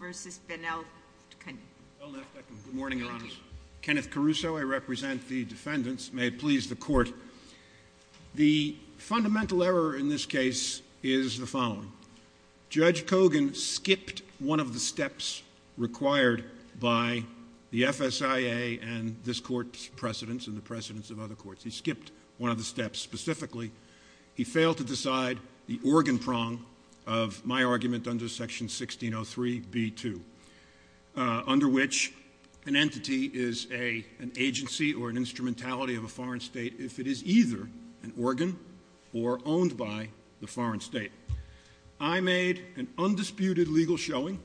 versus Belneftekhim. The fundamental error in this case is the following. required by the FSIA and this court's precedents and the precedents of other courts. He skipped one of the steps specifically. He failed to decide the organ prong of my argument under section 1603 B.2 under which an entity is an agency or an instrumentality of a foreign state if it is either an organ or owned by the foreign state. I made an undisputed legal showing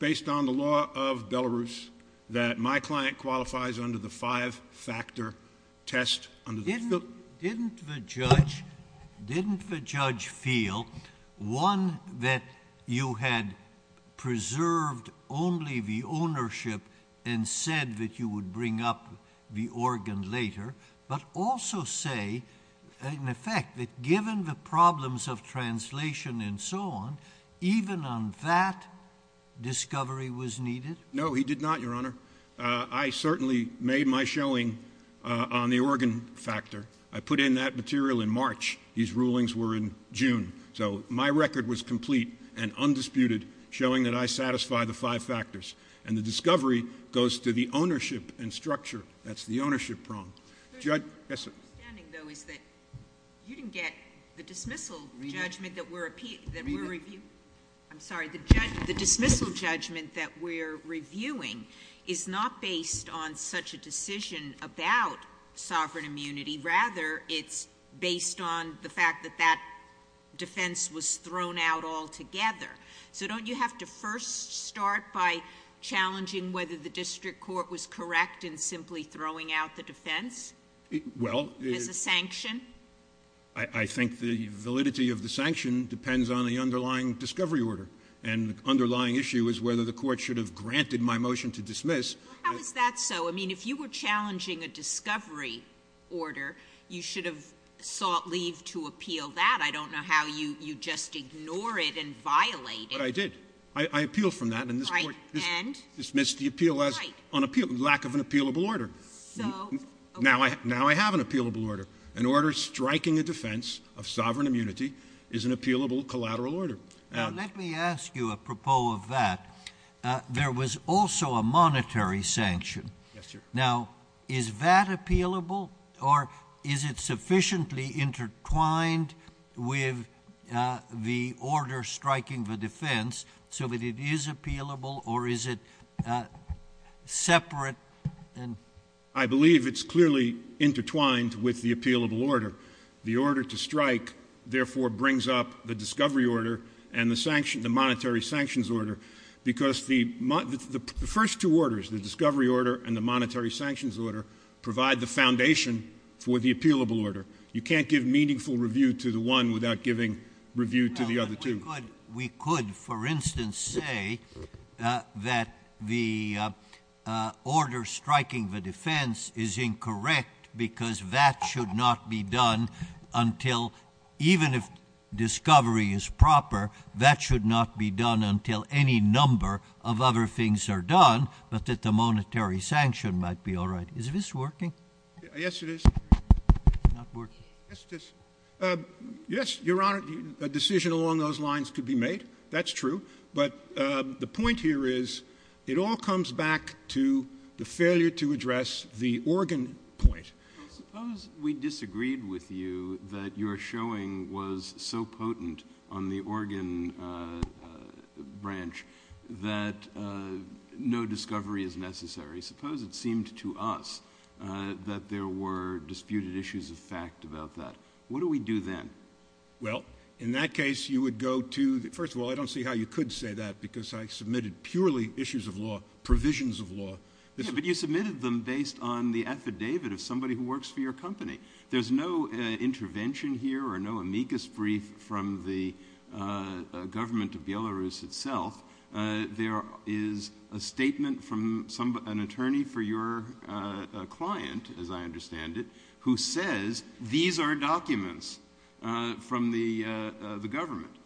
based on the law of Belarus that my client qualifies under the five-factor test. Didn't the judge feel, one, that you had preserved only the ownership and said that you would bring up the organ later, but also say, in effect, that given the problems of translation and so on, even on that discovery was needed? No, he did not, Your Honor. I certainly made my showing on the organ factor. I put in that material in March. His rulings were in June. So my record was complete and undisputed, showing that I satisfy the five factors. And the discovery goes to the ownership and structure. That's the ownership prong. My understanding, though, is that you didn't get the dismissal judgment that we're reviewing. I'm sorry, the dismissal judgment that we're reviewing is not based on such a decision about sovereign immunity. Rather, it's based on the fact that that defense was thrown out altogether. So don't you have to first start by challenging whether the district court was correct in simply throwing out the defense as a sanction? I think the validity of the sanction depends on the underlying discovery order. And the underlying issue is whether the court should have granted my motion to dismiss. Well, how is that so? I mean, if you were challenging a discovery order, you should have sought leave to appeal that. I don't know how you just ignore it and violate it. But I did. I appealed from that. Right. And? I dismissed the appeal as lack of an appealable order. So? Now I have an appealable order. An order striking a defense of sovereign immunity is an appealable collateral order. Now, let me ask you a propos of that. There was also a monetary sanction. Yes, sir. Now, is that appealable? Or is it sufficiently intertwined with the order striking the defense so that it is appealable or is it separate? I believe it's clearly intertwined with the appealable order. The order to strike, therefore, brings up the discovery order and the monetary sanctions order because the first two orders, the discovery order and the monetary sanctions order, provide the foundation for the appealable order. You can't give meaningful review to the one without giving review to the other two. We could, for instance, say that the order striking the defense is incorrect because that should not be done until, even if discovery is proper, that should not be done until any number of other things are done, but that the monetary sanction might be all right. Is this working? Yes, it is. Not working? Yes, it is. Yes, Your Honor, a decision along those lines could be made. That's true. But the point here is it all comes back to the failure to address the organ point. Suppose we disagreed with you that your showing was so potent on the organ branch that no discovery is necessary. Suppose it seemed to us that there were disputed issues of fact about that. What do we do then? Well, in that case, you would go to the – first of all, I don't see how you could say that because I submitted purely issues of law, provisions of law. Yeah, but you submitted them based on the affidavit of somebody who works for your company. There's no intervention here or no amicus brief from the government of Belarus itself. There is a statement from an attorney for your client, as I understand it, who says these are documents from the government.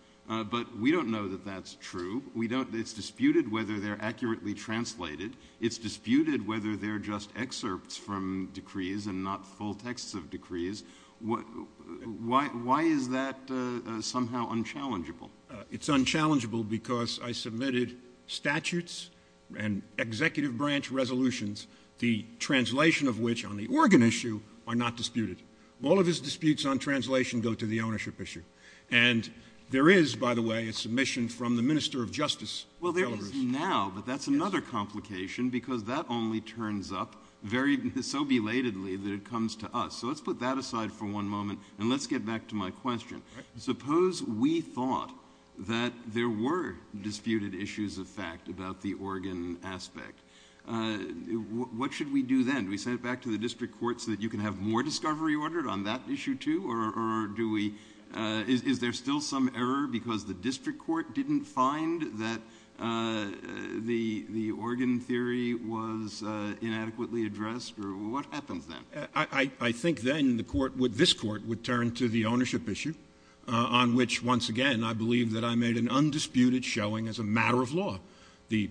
But we don't know that that's true. It's disputed whether they're accurately translated. It's disputed whether they're just excerpts from decrees and not full texts of decrees. Why is that somehow unchallengeable? It's unchallengeable because I submitted statutes and executive branch resolutions, the translation of which on the organ issue are not disputed. All of his disputes on translation go to the ownership issue. And there is, by the way, a submission from the minister of justice. Well, there is now, but that's another complication because that only turns up so belatedly that it comes to us. So let's put that aside for one moment and let's get back to my question. Suppose we thought that there were disputed issues of fact about the organ aspect. What should we do then? Do we send it back to the district court so that you can have more discovery ordered on that issue, too? Or is there still some error because the district court didn't find that the organ theory was inadequately addressed? What happens then? I think then this court would turn to the ownership issue on which, once again, I believe that I made an undisputed showing as a matter of law. The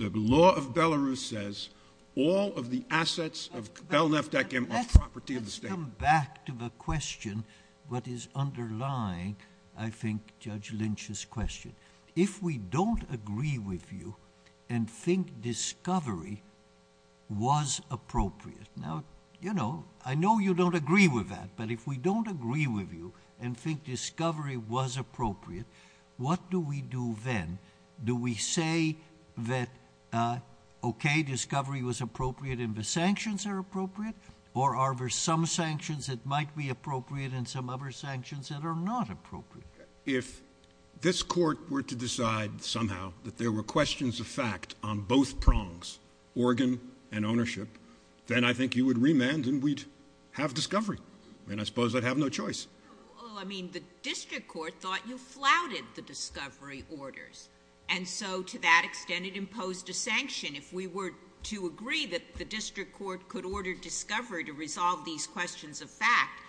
law of Belarus says all of the assets of belneft.gov are property of the state. Let's come back to the question what is underlying, I think, Judge Lynch's question. If we don't agree with you and think discovery was appropriate, now, you know, I know you don't agree with that. But if we don't agree with you and think discovery was appropriate, what do we do then? Do we say that, okay, discovery was appropriate and the sanctions are appropriate? Or are there some sanctions that might be appropriate and some other sanctions that are not appropriate? If this court were to decide somehow that there were questions of fact on both prongs, organ and ownership, then I think you would remand and we'd have discovery. And I suppose I'd have no choice. Well, I mean, the district court thought you flouted the discovery orders. And so to that extent, it imposed a sanction. If we were to agree that the district court could order discovery to resolve these questions of fact,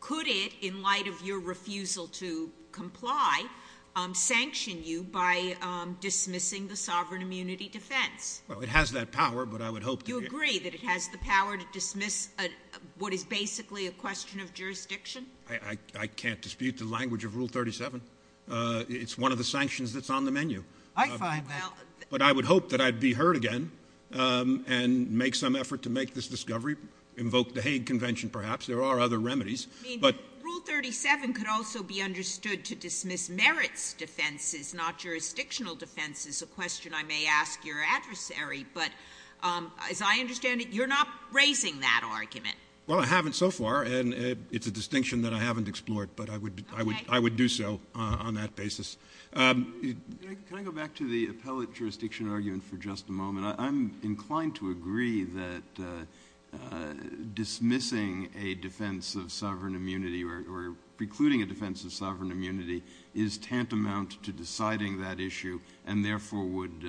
could it, in light of your refusal to comply, sanction you by dismissing the sovereign immunity defense? Well, it has that power, but I would hope that it would. Do you agree that it has the power to dismiss what is basically a question of jurisdiction? I can't dispute the language of Rule 37. It's one of the sanctions that's on the menu. I find that. But I would hope that I'd be heard again and make some effort to make this discovery, invoke the Hague Convention perhaps. There are other remedies. Rule 37 could also be understood to dismiss merits defenses, not jurisdictional defenses, a question I may ask your adversary. But as I understand it, you're not raising that argument. Well, I haven't so far, and it's a distinction that I haven't explored, but I would do so on that basis. Can I go back to the appellate jurisdiction argument for just a moment? I'm inclined to agree that dismissing a defense of sovereign immunity or precluding a defense of sovereign immunity is tantamount to deciding that issue and therefore would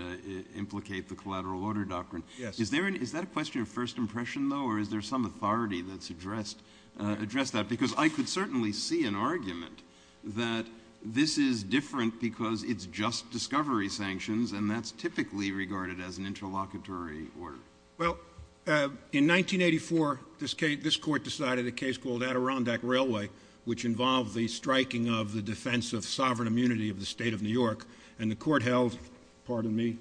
implicate the collateral order doctrine. Yes. Is that a question of first impression, though, or is there some authority that's addressed that? Because I could certainly see an argument that this is different because it's just discovery sanctions, and that's typically regarded as an interlocutory order. Well, in 1984, this court decided a case called Adirondack Railway, which involved the striking of the defense of sovereign immunity of the state of New York, and the court held, pardon me,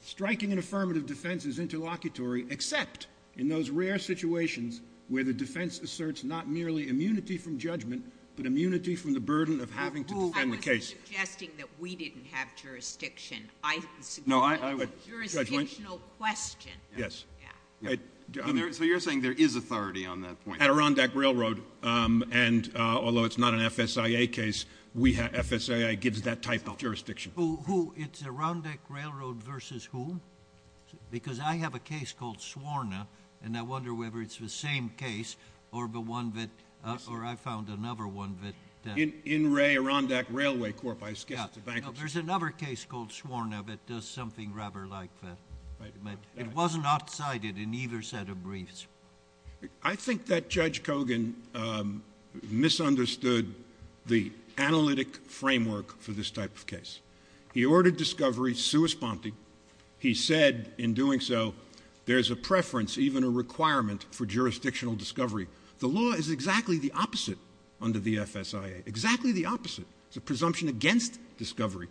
striking an affirmative defense is interlocutory except in those rare situations where the defense asserts not merely immunity from judgment but immunity from the burden of having to defend the case. Well, I wasn't suggesting that we didn't have jurisdiction. I was suggesting a jurisdictional question. Yes. Yeah. So you're saying there is authority on that point? At Adirondack Railroad, and although it's not an FSIA case, FSIA gives that type of jurisdiction. Who? It's Adirondack Railroad versus who? Because I have a case called Swarna, and I wonder whether it's the same case or the one that or I found another one that. In Ray, Adirondack Railway Corp. I guess it's a bankruptcy. Yeah. There's another case called Swarna that does something rather like that. Right. It was not cited in either set of briefs. I think that Judge Kogan misunderstood the analytic framework for this type of case. He ordered discovery sua sponte. He said in doing so there's a preference, even a requirement, for jurisdictional discovery. The law is exactly the opposite under the FSIA, exactly the opposite. It's a presumption against discovery.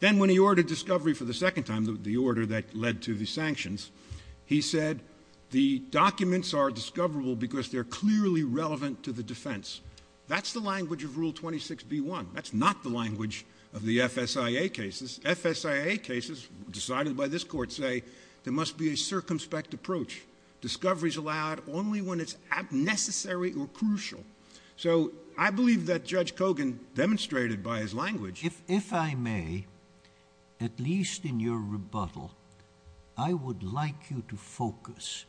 Then when he ordered discovery for the second time, the order that led to the sanctions, he said the documents are discoverable because they're clearly relevant to the defense. That's the language of Rule 26b-1. That's not the language of the FSIA cases. FSIA cases decided by this Court say there must be a circumspect approach. Discovery is allowed only when it's necessary or crucial. If I may, at least in your rebuttal, I would like you to focus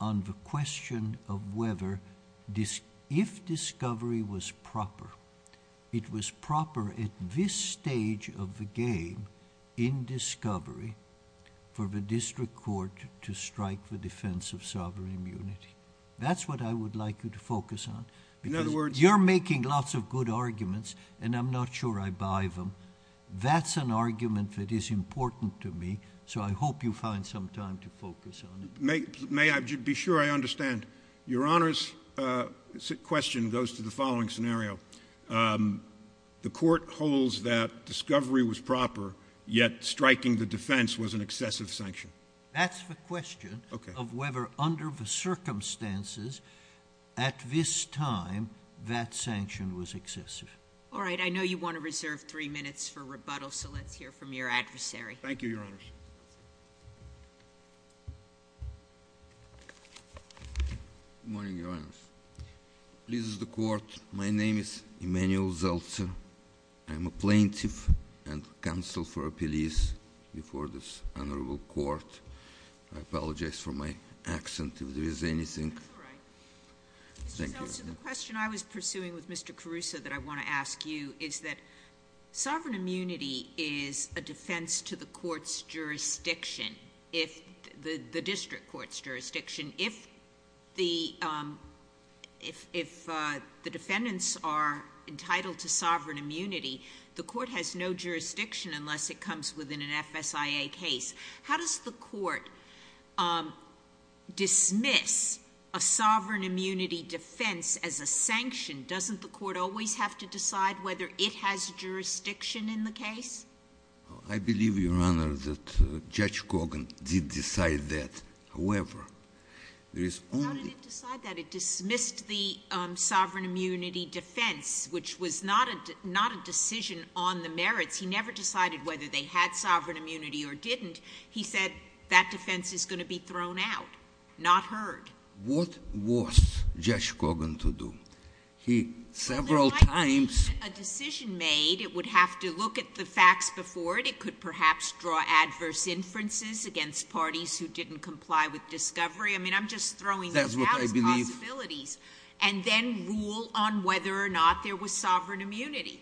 on the question of whether if discovery was proper, it was proper at this stage of the game in discovery for the district court to strike the defense of sovereign immunity. That's what I would like you to focus on. You're making lots of good arguments, and I'm not sure I buy them. That's an argument that is important to me, so I hope you find some time to focus on it. May I be sure I understand? Your Honor's question goes to the following scenario. The Court holds that discovery was proper, yet striking the defense was an excessive sanction. That's the question of whether under the circumstances, at this time, that sanction was excessive. All right. I know you want to reserve three minutes for rebuttal, so let's hear from your adversary. Thank you, Your Honors. Good morning, Your Honors. This is the Court. My name is Emmanuel Zeltser. I'm a plaintiff and counsel for a police before this honorable court. I apologize for my accent if there is anything. That's all right. Thank you. Mr. Zeltser, the question I was pursuing with Mr. Caruso that I want to ask you is that sovereign immunity is a defense to the court's jurisdiction, the district court's jurisdiction. If the defendants are entitled to sovereign immunity, the court has no jurisdiction unless it comes within an FSIA case. How does the court dismiss a sovereign immunity defense as a sanction? Doesn't the court always have to decide whether it has jurisdiction in the case? I believe, Your Honor, that Judge Cogan did decide that. However, there is only— How did it decide that? It dismissed the sovereign immunity defense, which was not a decision on the merits. He never decided whether they had sovereign immunity or didn't. He said that defense is going to be thrown out, not heard. What was Judge Cogan to do? He several times— A decision made, it would have to look at the facts before it. It could perhaps draw adverse inferences against parties who didn't comply with discovery. I mean, I'm just throwing these out as possibilities. That's what I believe. And then rule on whether or not there was sovereign immunity.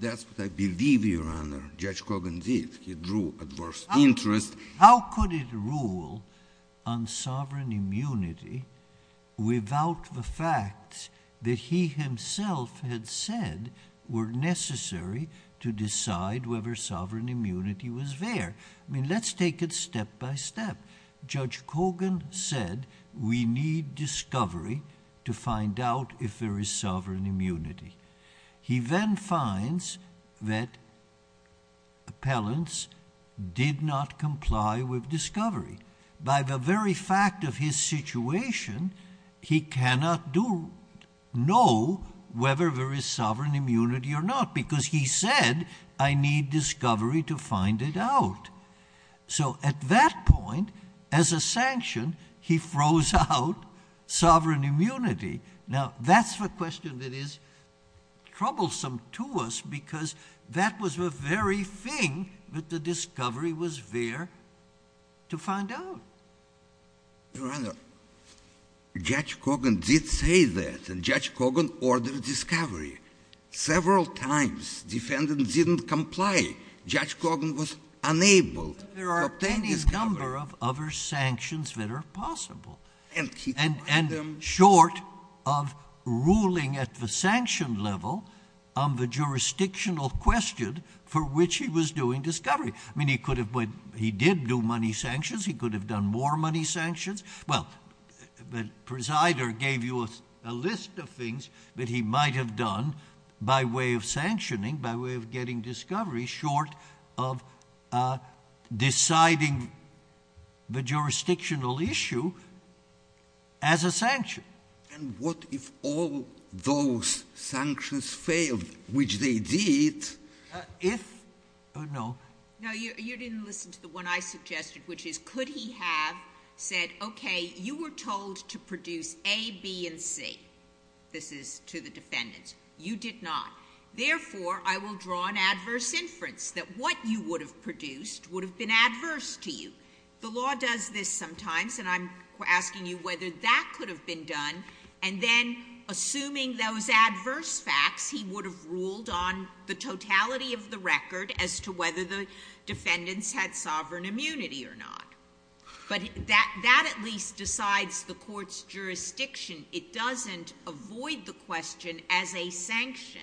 That's what I believe, Your Honor. Judge Cogan did. He drew adverse interest. How could it rule on sovereign immunity without the facts that he himself had said were necessary to decide whether sovereign immunity was there? I mean, let's take it step by step. Judge Cogan said we need discovery to find out if there is sovereign immunity. He then finds that appellants did not comply with discovery. By the very fact of his situation, he cannot know whether there is sovereign immunity or not because he said, I need discovery to find it out. So at that point, as a sanction, he throws out sovereign immunity. Now, that's the question that is troublesome to us because that was the very thing that the discovery was there to find out. Your Honor, Judge Cogan did say that, and Judge Cogan ordered discovery several times. Defendants didn't comply. Judge Cogan was unable to obtain discovery. There are any number of other sanctions that are possible. And short of ruling at the sanction level on the jurisdictional question for which he was doing discovery. I mean, he did do money sanctions. He could have done more money sanctions. Well, the presider gave you a list of things that he might have done by way of sanctioning, by way of getting discovery short of deciding the jurisdictional issue as a sanction. And what if all those sanctions failed, which they did? No. No, you didn't listen to the one I suggested, which is could he have said, okay, you were told to produce A, B, and C. This is to the defendant. You did not. Therefore, I will draw an adverse inference that what you would have produced would have been adverse to you. The law does this sometimes, and I'm asking you whether that could have been done. And then, assuming those adverse facts, he would have ruled on the totality of the record as to whether the defendants had sovereign immunity or not. But that at least decides the court's jurisdiction. It doesn't avoid the question as a sanction.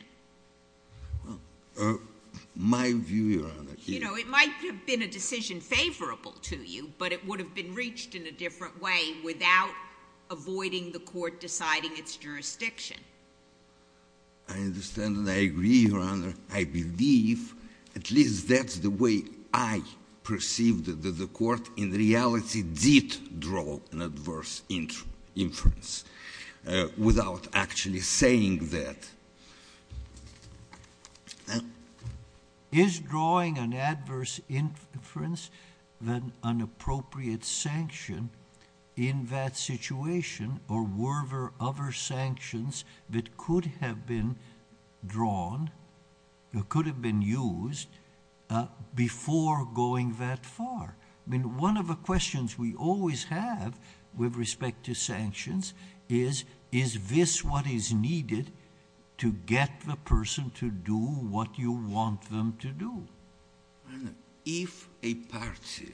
My view, Your Honor. You know, it might have been a decision favorable to you, but it would have been reached in a different way without avoiding the court deciding its jurisdiction. I understand and I agree, Your Honor. I believe at least that's the way I perceive that the court in reality did draw an adverse inference without actually saying that. Is drawing an adverse inference an appropriate sanction in that situation, or were there other sanctions that could have been drawn or could have been used before going that far? I mean, one of the questions we always have with respect to sanctions is, is this what is needed to get the person to do what you want them to do? If a party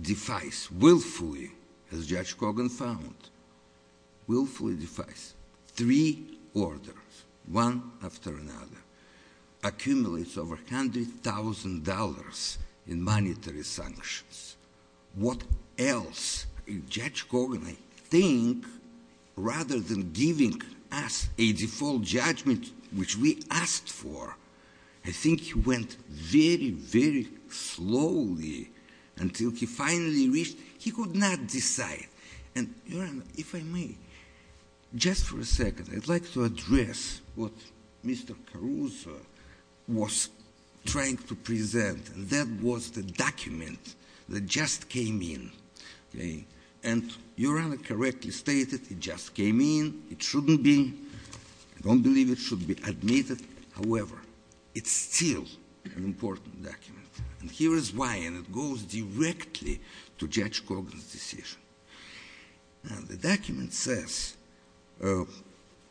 defies willfully, as Judge Kogan found, willfully defies three orders, one after another, accumulates over $100,000 in monetary sanctions, what else? Judge Kogan, I think, rather than giving us a default judgment, which we asked for, I think he went very, very slowly until he finally reached, he could not decide. And, Your Honor, if I may, just for a second, I'd like to address what Mr. Caruso was trying to present, and that was the document that just came in, okay? And Your Honor correctly stated it just came in, it shouldn't be, I don't believe it should be admitted. However, it's still an important document, and here is why, and it goes directly to Judge Kogan's decision. Now, the document says,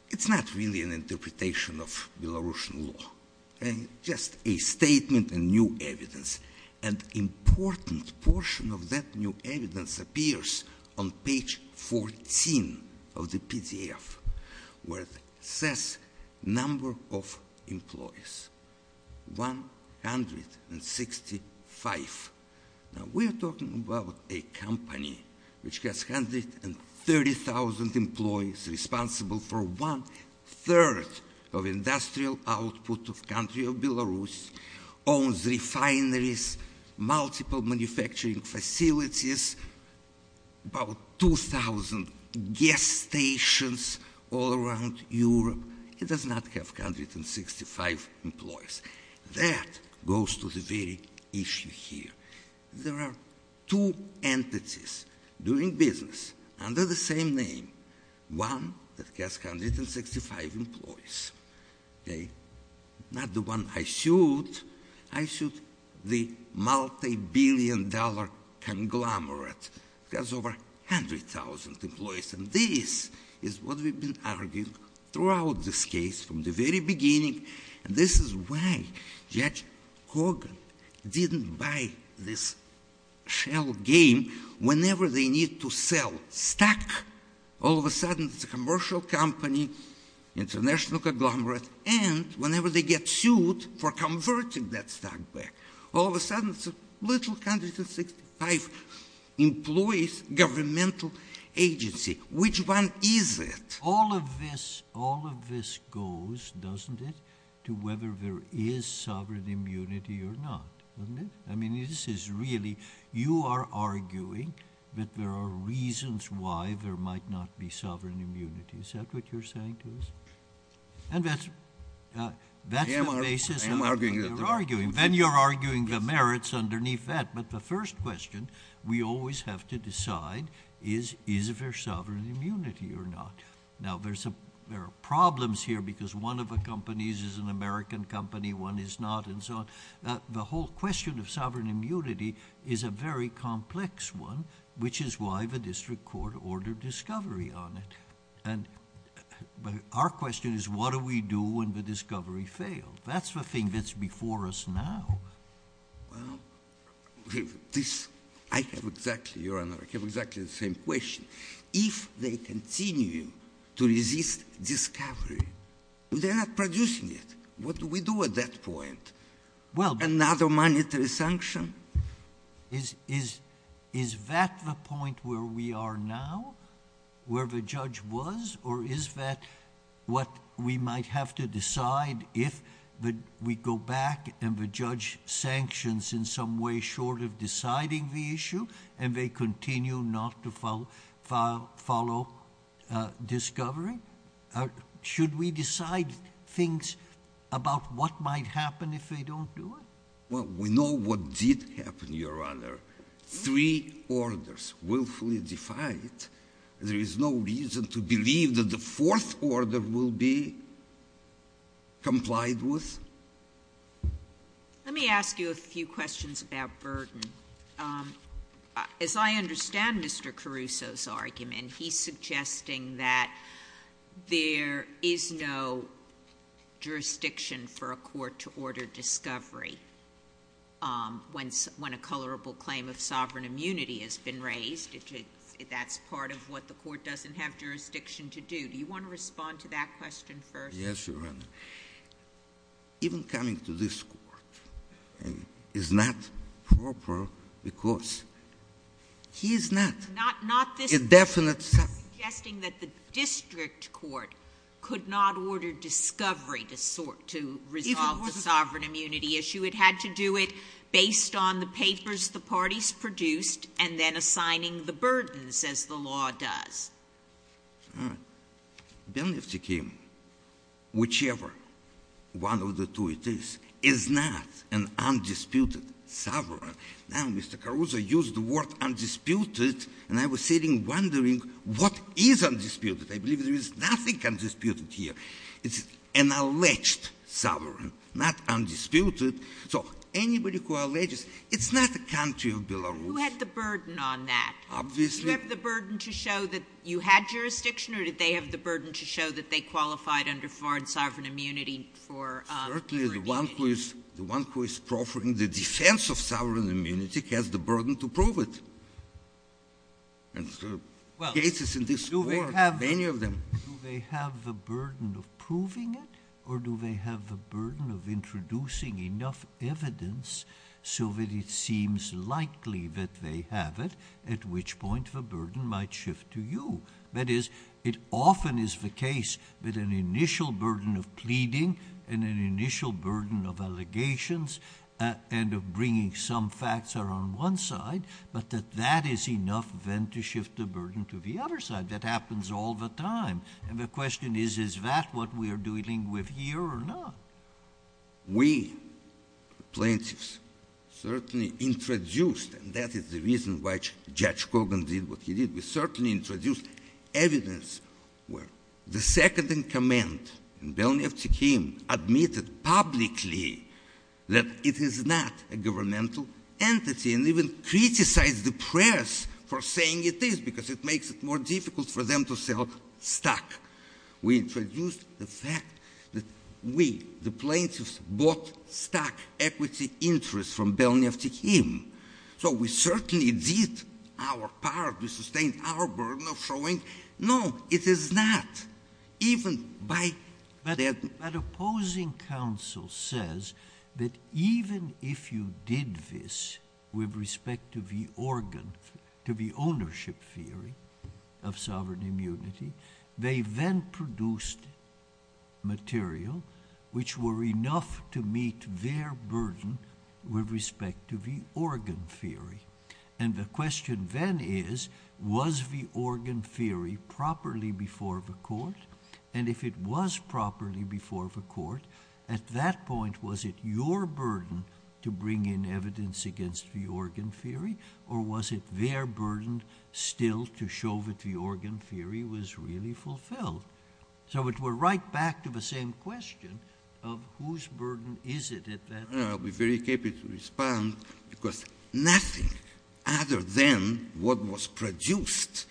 it's not really an interpretation of Belarusian law, just a statement and new evidence, and important portion of that new evidence appears on page 14 of the PDF, where it says number of employees, 165. Now, we're talking about a company which has 130,000 employees, responsible for one-third of industrial output of country of Belarus, owns refineries, multiple manufacturing facilities, about 2,000 gas stations all around Europe. It does not have 165 employees. That goes to the very issue here. There are two entities doing business under the same name, one that has 165 employees, okay? Not the one I sued. I sued the multi-billion dollar conglomerate. It has over 100,000 employees, and this is what we've been arguing throughout this case from the very beginning. This is why Judge Kogan didn't buy this shell game whenever they need to sell stock. All of a sudden, it's a commercial company, international conglomerate, and whenever they get sued for converting that stock back, all of a sudden, it's a little country with 165 employees, governmental agency. Which one is it? All of this goes, doesn't it, to whether there is sovereign immunity or not, doesn't it? I mean, this is really you are arguing that there are reasons why there might not be sovereign immunity. Is that what you're saying to us? That's the basis of what you're arguing. Then you're arguing the merits underneath that. The first question we always have to decide is, is there sovereign immunity or not? Now, there are problems here because one of the companies is an American company, one is not, and so on. The whole question of sovereign immunity is a very complex one, which is why the district court ordered discovery on it. Our question is, what do we do when the discovery failed? That's the thing that's before us now. Well, I have exactly, Your Honor, I have exactly the same question. If they continue to resist discovery, they're not producing it. What do we do at that point? Another monetary sanction? Is that the point where we are now, where the judge was, or is that what we might have to decide if we go back and the judge sanctions in some way short of deciding the issue and they continue not to follow discovery? Should we decide things about what might happen if they don't do it? Well, we know what did happen, Your Honor. Three orders willfully defied. There is no reason to believe that the fourth order will be complied with. Let me ask you a few questions about burden. As I understand Mr. Caruso's argument, he's suggesting that there is no jurisdiction for a court to order discovery when a colorable claim of sovereign immunity has been raised. That's part of what the court doesn't have jurisdiction to do. Do you want to respond to that question first? Yes, Your Honor. Even coming to this court is not proper because he is not indefinite. He's not suggesting that the district court could not order discovery to resolve the sovereign immunity issue. It had to do it based on the papers the parties produced and then assigning the burdens as the law does. All right. Belny of TK, whichever one of the two it is, is not an undisputed sovereign. Now, Mr. Caruso used the word undisputed and I was sitting wondering what is undisputed. I believe there is nothing undisputed here. It's an alleged sovereign, not undisputed. So, anybody who alleges, it's not the country of Belarus. You had the burden on that. Obviously. Did you have the burden to show that you had jurisdiction or did they have the burden to show that they qualified under foreign sovereign immunity? Certainly, the one who is proffering the defense of sovereign immunity has the burden to prove it. And there are cases in this court, many of them. Do they have the burden of proving it or do they have the burden of introducing enough evidence so that it seems likely that they have it at which point the burden might shift to you? That is, it often is the case that an initial burden of pleading and an initial burden of allegations and of bringing some facts are on one side, but that that is enough then to shift the burden to the other side. That happens all the time. And the question is, is that what we are dealing with here or not? We, plaintiffs, certainly introduced, and that is the reason why Judge Kogan did what he did, we certainly introduced evidence where the second-in-command, Belyaev Tikhim, admitted publicly that it is not a governmental entity and even criticized the press for saying it is because it makes it more difficult for them to sell stock. We introduced the fact that we, the plaintiffs, bought stock equity interest from Belyaev Tikhim. So we certainly did our part to sustain our burden of showing, no, it is not. But opposing counsel says that even if you did this with respect to the ownership theory of sovereign immunity, they then produced material which were enough to meet their burden with respect to the organ theory. And the question then is, was the organ theory properly before the court? And if it was properly before the court, at that point was it your burden to bring in evidence against the organ theory or was it their burden still to show that the organ theory was really fulfilled? So we are right back to the same question of whose burden is it at that point. I'll be very happy to respond because nothing other than what was produced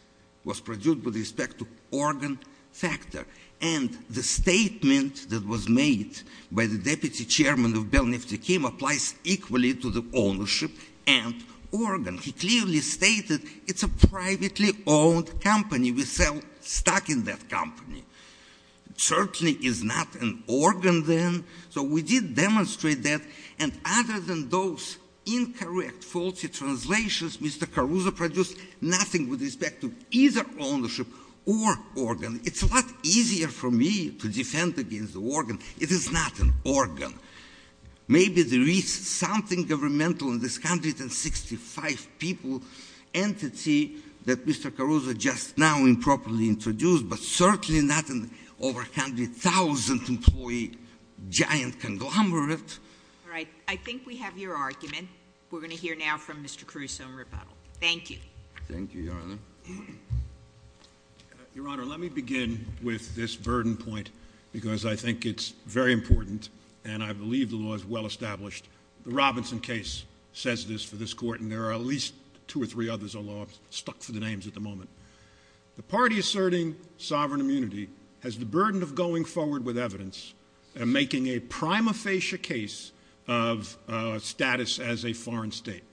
was produced with respect to organ factor. And the statement that was made by the deputy chairman of Belyaev Tikhim applies equally to the ownership and organ. He clearly stated it's a privately owned company. We sell stock in that company. It certainly is not an organ then. So we did demonstrate that. And other than those incorrect, faulty translations, Mr. Caruso produced nothing with respect to either ownership or organ. It's a lot easier for me to defend against the organ. It is not an organ. Maybe there is something governmental in this 165-people entity that Mr. Caruso just now improperly introduced, but certainly not an over 100,000-employee giant conglomerate. All right. I think we have your argument. We're going to hear now from Mr. Caruso in rebuttal. Thank you. Thank you, Your Honor. Your Honor, let me begin with this burden point because I think it's very important, and I believe the law is well established. The Robinson case says this for this Court, and there are at least two or three others aloft stuck for the names at the moment. The party asserting sovereign immunity has the burden of going forward with evidence and making a prima facie case of status as a foreign state.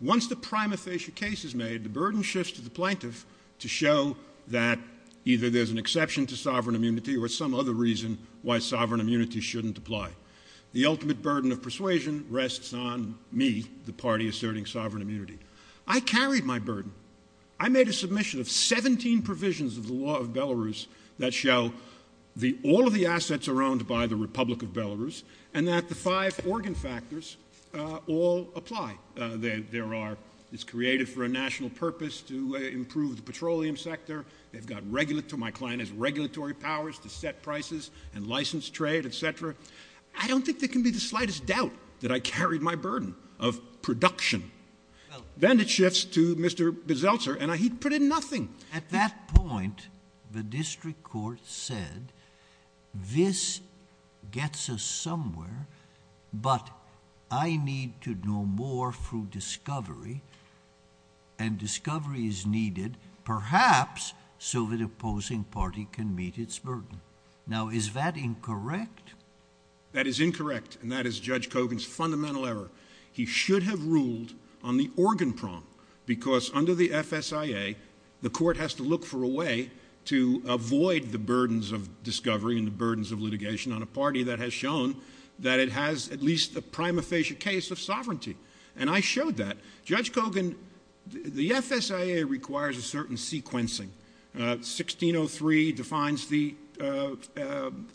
Once the prima facie case is made, the burden shifts to the plaintiff to show that either there's an exception to sovereign immunity or some other reason why sovereign immunity shouldn't apply. The ultimate burden of persuasion rests on me, the party asserting sovereign immunity. I carried my burden. I made a submission of 17 provisions of the law of Belarus that show all of the assets are owned by the Republic of Belarus and that the five organ factors all apply. It's created for a national purpose to improve the petroleum sector. My client has regulatory powers to set prices and license trade, etc. I don't think there can be the slightest doubt that I carried my burden of production. Then it shifts to Mr. Beseltzer, and he put in nothing. At that point, the district court said, this gets us somewhere, but I need to know more through discovery, and discovery is needed, perhaps so the opposing party can meet its burden. Now, is that incorrect? That is incorrect, and that is Judge Kogan's fundamental error. He should have ruled on the organ prong, because under the FSIA, the court has to look for a way to avoid the burdens of discovery and the burdens of litigation on a party that has shown that it has at least a prima facie case of sovereignty, and I showed that. Judge Kogan, the FSIA requires a certain sequencing. 1603 defines the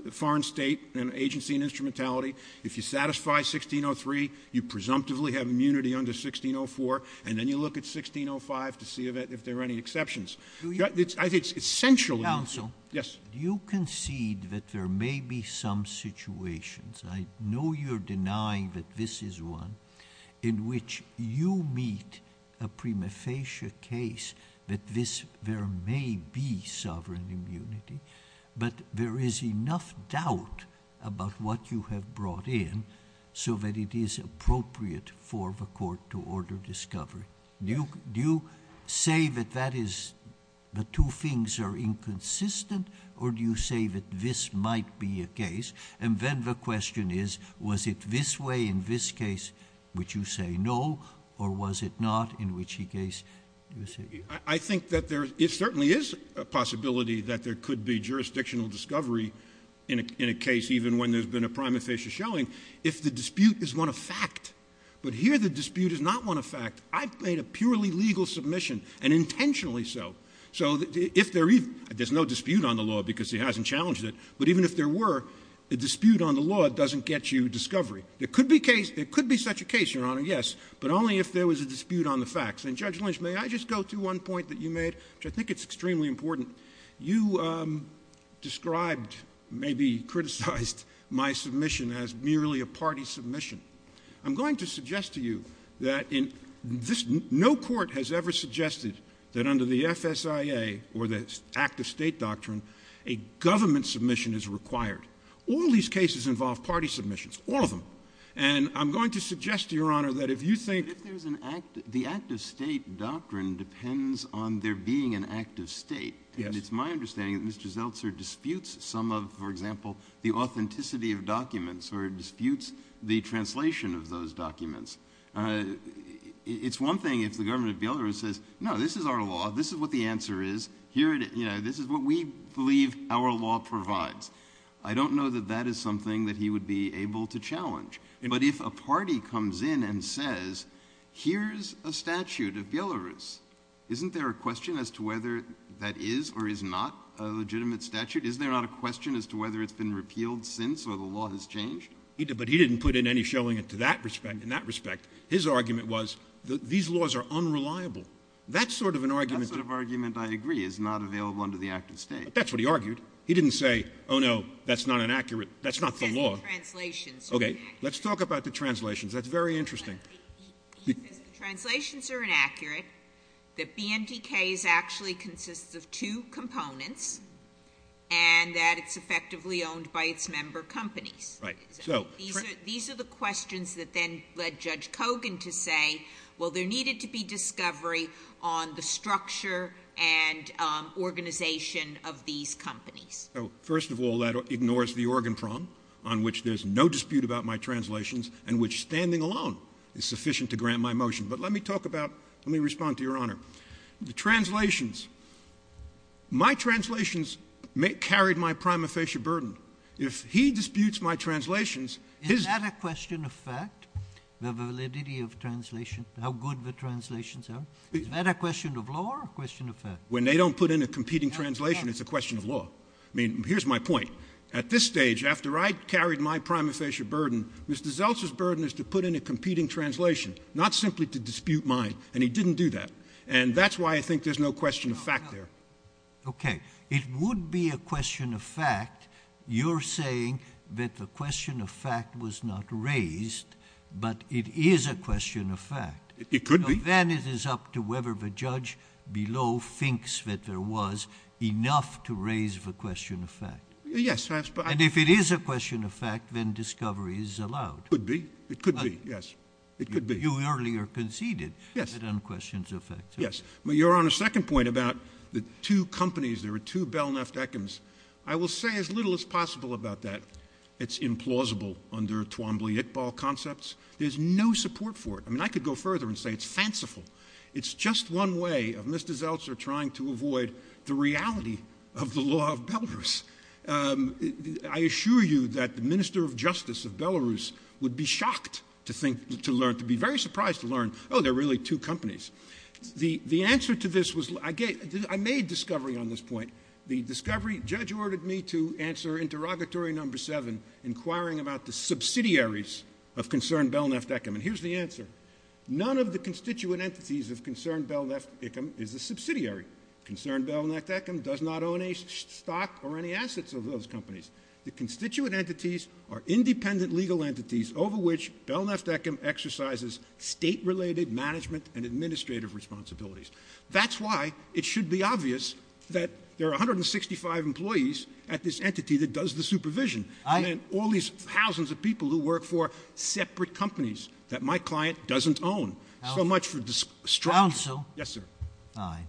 foreign state and agency and instrumentality. If you satisfy 1603, you presumptively have immunity under 1604, and then you look at 1605 to see if there are any exceptions. I think it's essential. Counsel. Yes. You concede that there may be some situations, I know you're denying that this is one, in which you meet a prima facie case that there may be sovereign immunity, but there is enough doubt about what you have brought in so that it is appropriate for the court to order discovery. Do you say that that is the two things are inconsistent, or do you say that this might be a case? And then the question is, was it this way in this case, which you say no, or was it not in which case you say yes? I think that there certainly is a possibility that there could be jurisdictional discovery in a case, even when there's been a prima facie showing, if the dispute is one of fact. But here the dispute is not one of fact. I've made a purely legal submission, and intentionally so. So if there's no dispute on the law because he hasn't challenged it, but even if there were, a dispute on the law doesn't get you discovery. There could be such a case, Your Honor, yes, but only if there was a dispute on the facts. And Judge Lynch, may I just go to one point that you made, which I think it's extremely important. You described, maybe criticized, my submission as merely a party submission. I'm going to suggest to you that no court has ever suggested that under the FSIA, or the Act of State Doctrine, a government submission is required. All these cases involve party submissions, all of them. And I'm going to suggest to you, Your Honor, that if you think… The Act of State Doctrine depends on there being an act of state. And it's my understanding that Mr. Zeltser disputes some of, for example, the authenticity of documents, or disputes the translation of those documents. It's one thing if the government of Belarus says, no, this is our law, this is what the answer is, this is what we believe our law provides. I don't know that that is something that he would be able to challenge. But if a party comes in and says, here's a statute of Belarus, isn't there a question as to whether that is or is not a legitimate statute? Is there not a question as to whether it's been repealed since, or the law has changed? But he didn't put in any showing in that respect. His argument was, these laws are unreliable. That sort of argument… That sort of argument, I agree, is not available under the Act of State. But that's what he argued. He didn't say, oh, no, that's not inaccurate. That's not the law. Translations are inaccurate. Okay. Let's talk about the translations. That's very interesting. Translations are inaccurate. The BNDK actually consists of two components, and that it's effectively owned by its member companies. Right. These are the questions that then led Judge Kogan to say, well, there needed to be discovery on the structure and organization of these companies. First of all, that ignores the organ problem on which there's no dispute about my translations and which standing alone is sufficient to grant my motion. But let me talk about, let me respond to Your Honor. The translations, my translations carried my prima facie burden. If he disputes my translations, his… Is that a question of fact? The validity of translation, how good the translations are, is that a question of law or a question of fact? When they don't put in a competing translation, it's a question of law. I mean, here's my point. At this stage, after I carried my prima facie burden, Mr. Zeltzer's burden is to put in a competing translation, not simply to dispute mine, and he didn't do that. And that's why I think there's no question of fact there. Okay. It would be a question of fact. You're saying that the question of fact was not raised, but it is a question of fact. It could be. Then it is up to whether the judge below thinks that there was enough to raise the question of fact. Yes. And if it is a question of fact, then discovery is allowed. It could be. It could be, yes. It could be. You earlier conceded. Yes. It unquestions the fact. Yes. Your Honor, second point about the two companies, there are two Belknap-Eckhams. I will say as little as possible about that. It's implausible under Twombly-Iqbal concepts. There's no support for it. I mean, I could go further and say it's fanciful. It's just one way of Mr. Zeltzer trying to avoid the reality of the law of Belarus. I assure you that the Minister of Justice of Belarus would be shocked to think, to learn, to be very surprised to learn, oh, there are really two companies. The answer to this was, I made discovery on this point. The discovery, judge ordered me to answer interrogatory number seven, inquiring about the subsidiaries of Concerned Belknap-Eckham, and here's the answer. None of the constituent entities of Concerned Belknap-Eckham is a subsidiary. Concerned Belknap-Eckham does not own a stock or any assets of those companies. The constituent entities are independent legal entities over which Belknap-Eckham exercises state-related management and administrative responsibilities. That's why it should be obvious that there are 165 employees at this entity that does the supervision, and then all these thousands of people who work for separate companies that my client doesn't own. So much for destruction. Counsel? Yes, sir. I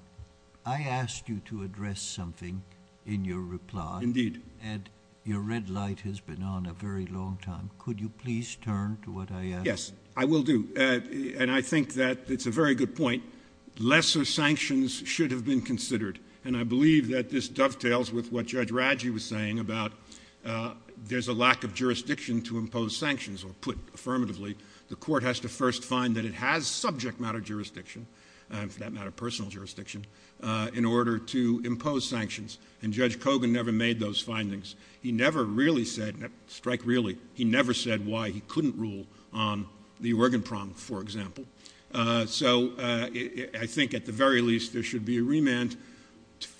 asked you to address something in your reply. Indeed. And your red light has been on a very long time. Could you please turn to what I asked? Yes, I will do, and I think that it's a very good point. Lesser sanctions should have been considered, and I believe that this dovetails with what Judge Radji was saying about there's a lack of jurisdiction to impose sanctions, or put affirmatively, the court has to first find that it has subject matter jurisdiction, and for that matter personal jurisdiction, in order to impose sanctions. And Judge Kogan never made those findings. He never really said, strike really, he never said why he couldn't rule on the organ prom, for example. So I think at the very least there should be a remand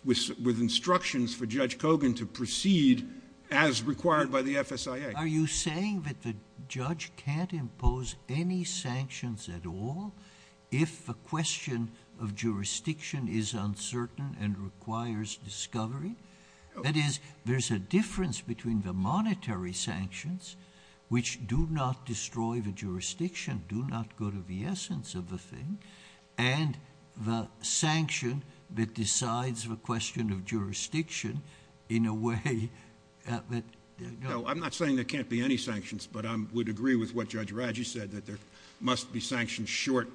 with instructions for Judge Kogan to proceed as required by the FSIA. Are you saying that the judge can't impose any sanctions at all if the question of jurisdiction is uncertain and requires discovery? That is, there's a difference between the monetary sanctions, which do not destroy the jurisdiction, do not go to the essence of the thing, and the sanction that decides the question of jurisdiction in a way that no. No, I'm not saying there can't be any sanctions, but I would agree with what Judge Radji said, that there must be sanctions short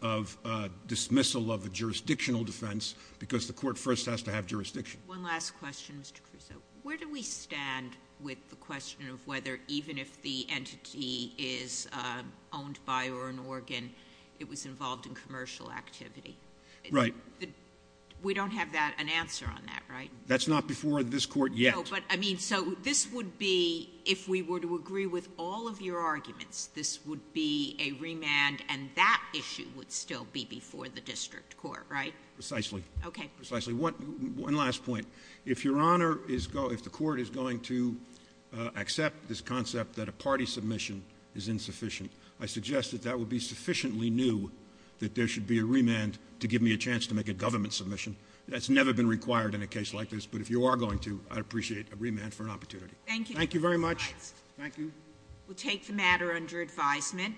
of dismissal of a jurisdictional defense, because the court first has to have jurisdiction. One last question, Mr. Crusoe. Where do we stand with the question of whether even if the entity is owned by or an organ, it was involved in commercial activity? Right. We don't have an answer on that, right? That's not before this court yet. No, but I mean, so this would be, if we were to agree with all of your arguments, this would be a remand and that issue would still be before the district court, right? Precisely. Okay. Precisely. One last point. If Your Honor, if the court is going to accept this concept that a party submission is insufficient, I suggest that that would be sufficiently new that there should be a remand to give me a chance to make a government submission. That's never been required in a case like this, but if you are going to, I'd appreciate a remand for an opportunity. Thank you. Thank you very much. Thank you. We'll take the matter under advisement.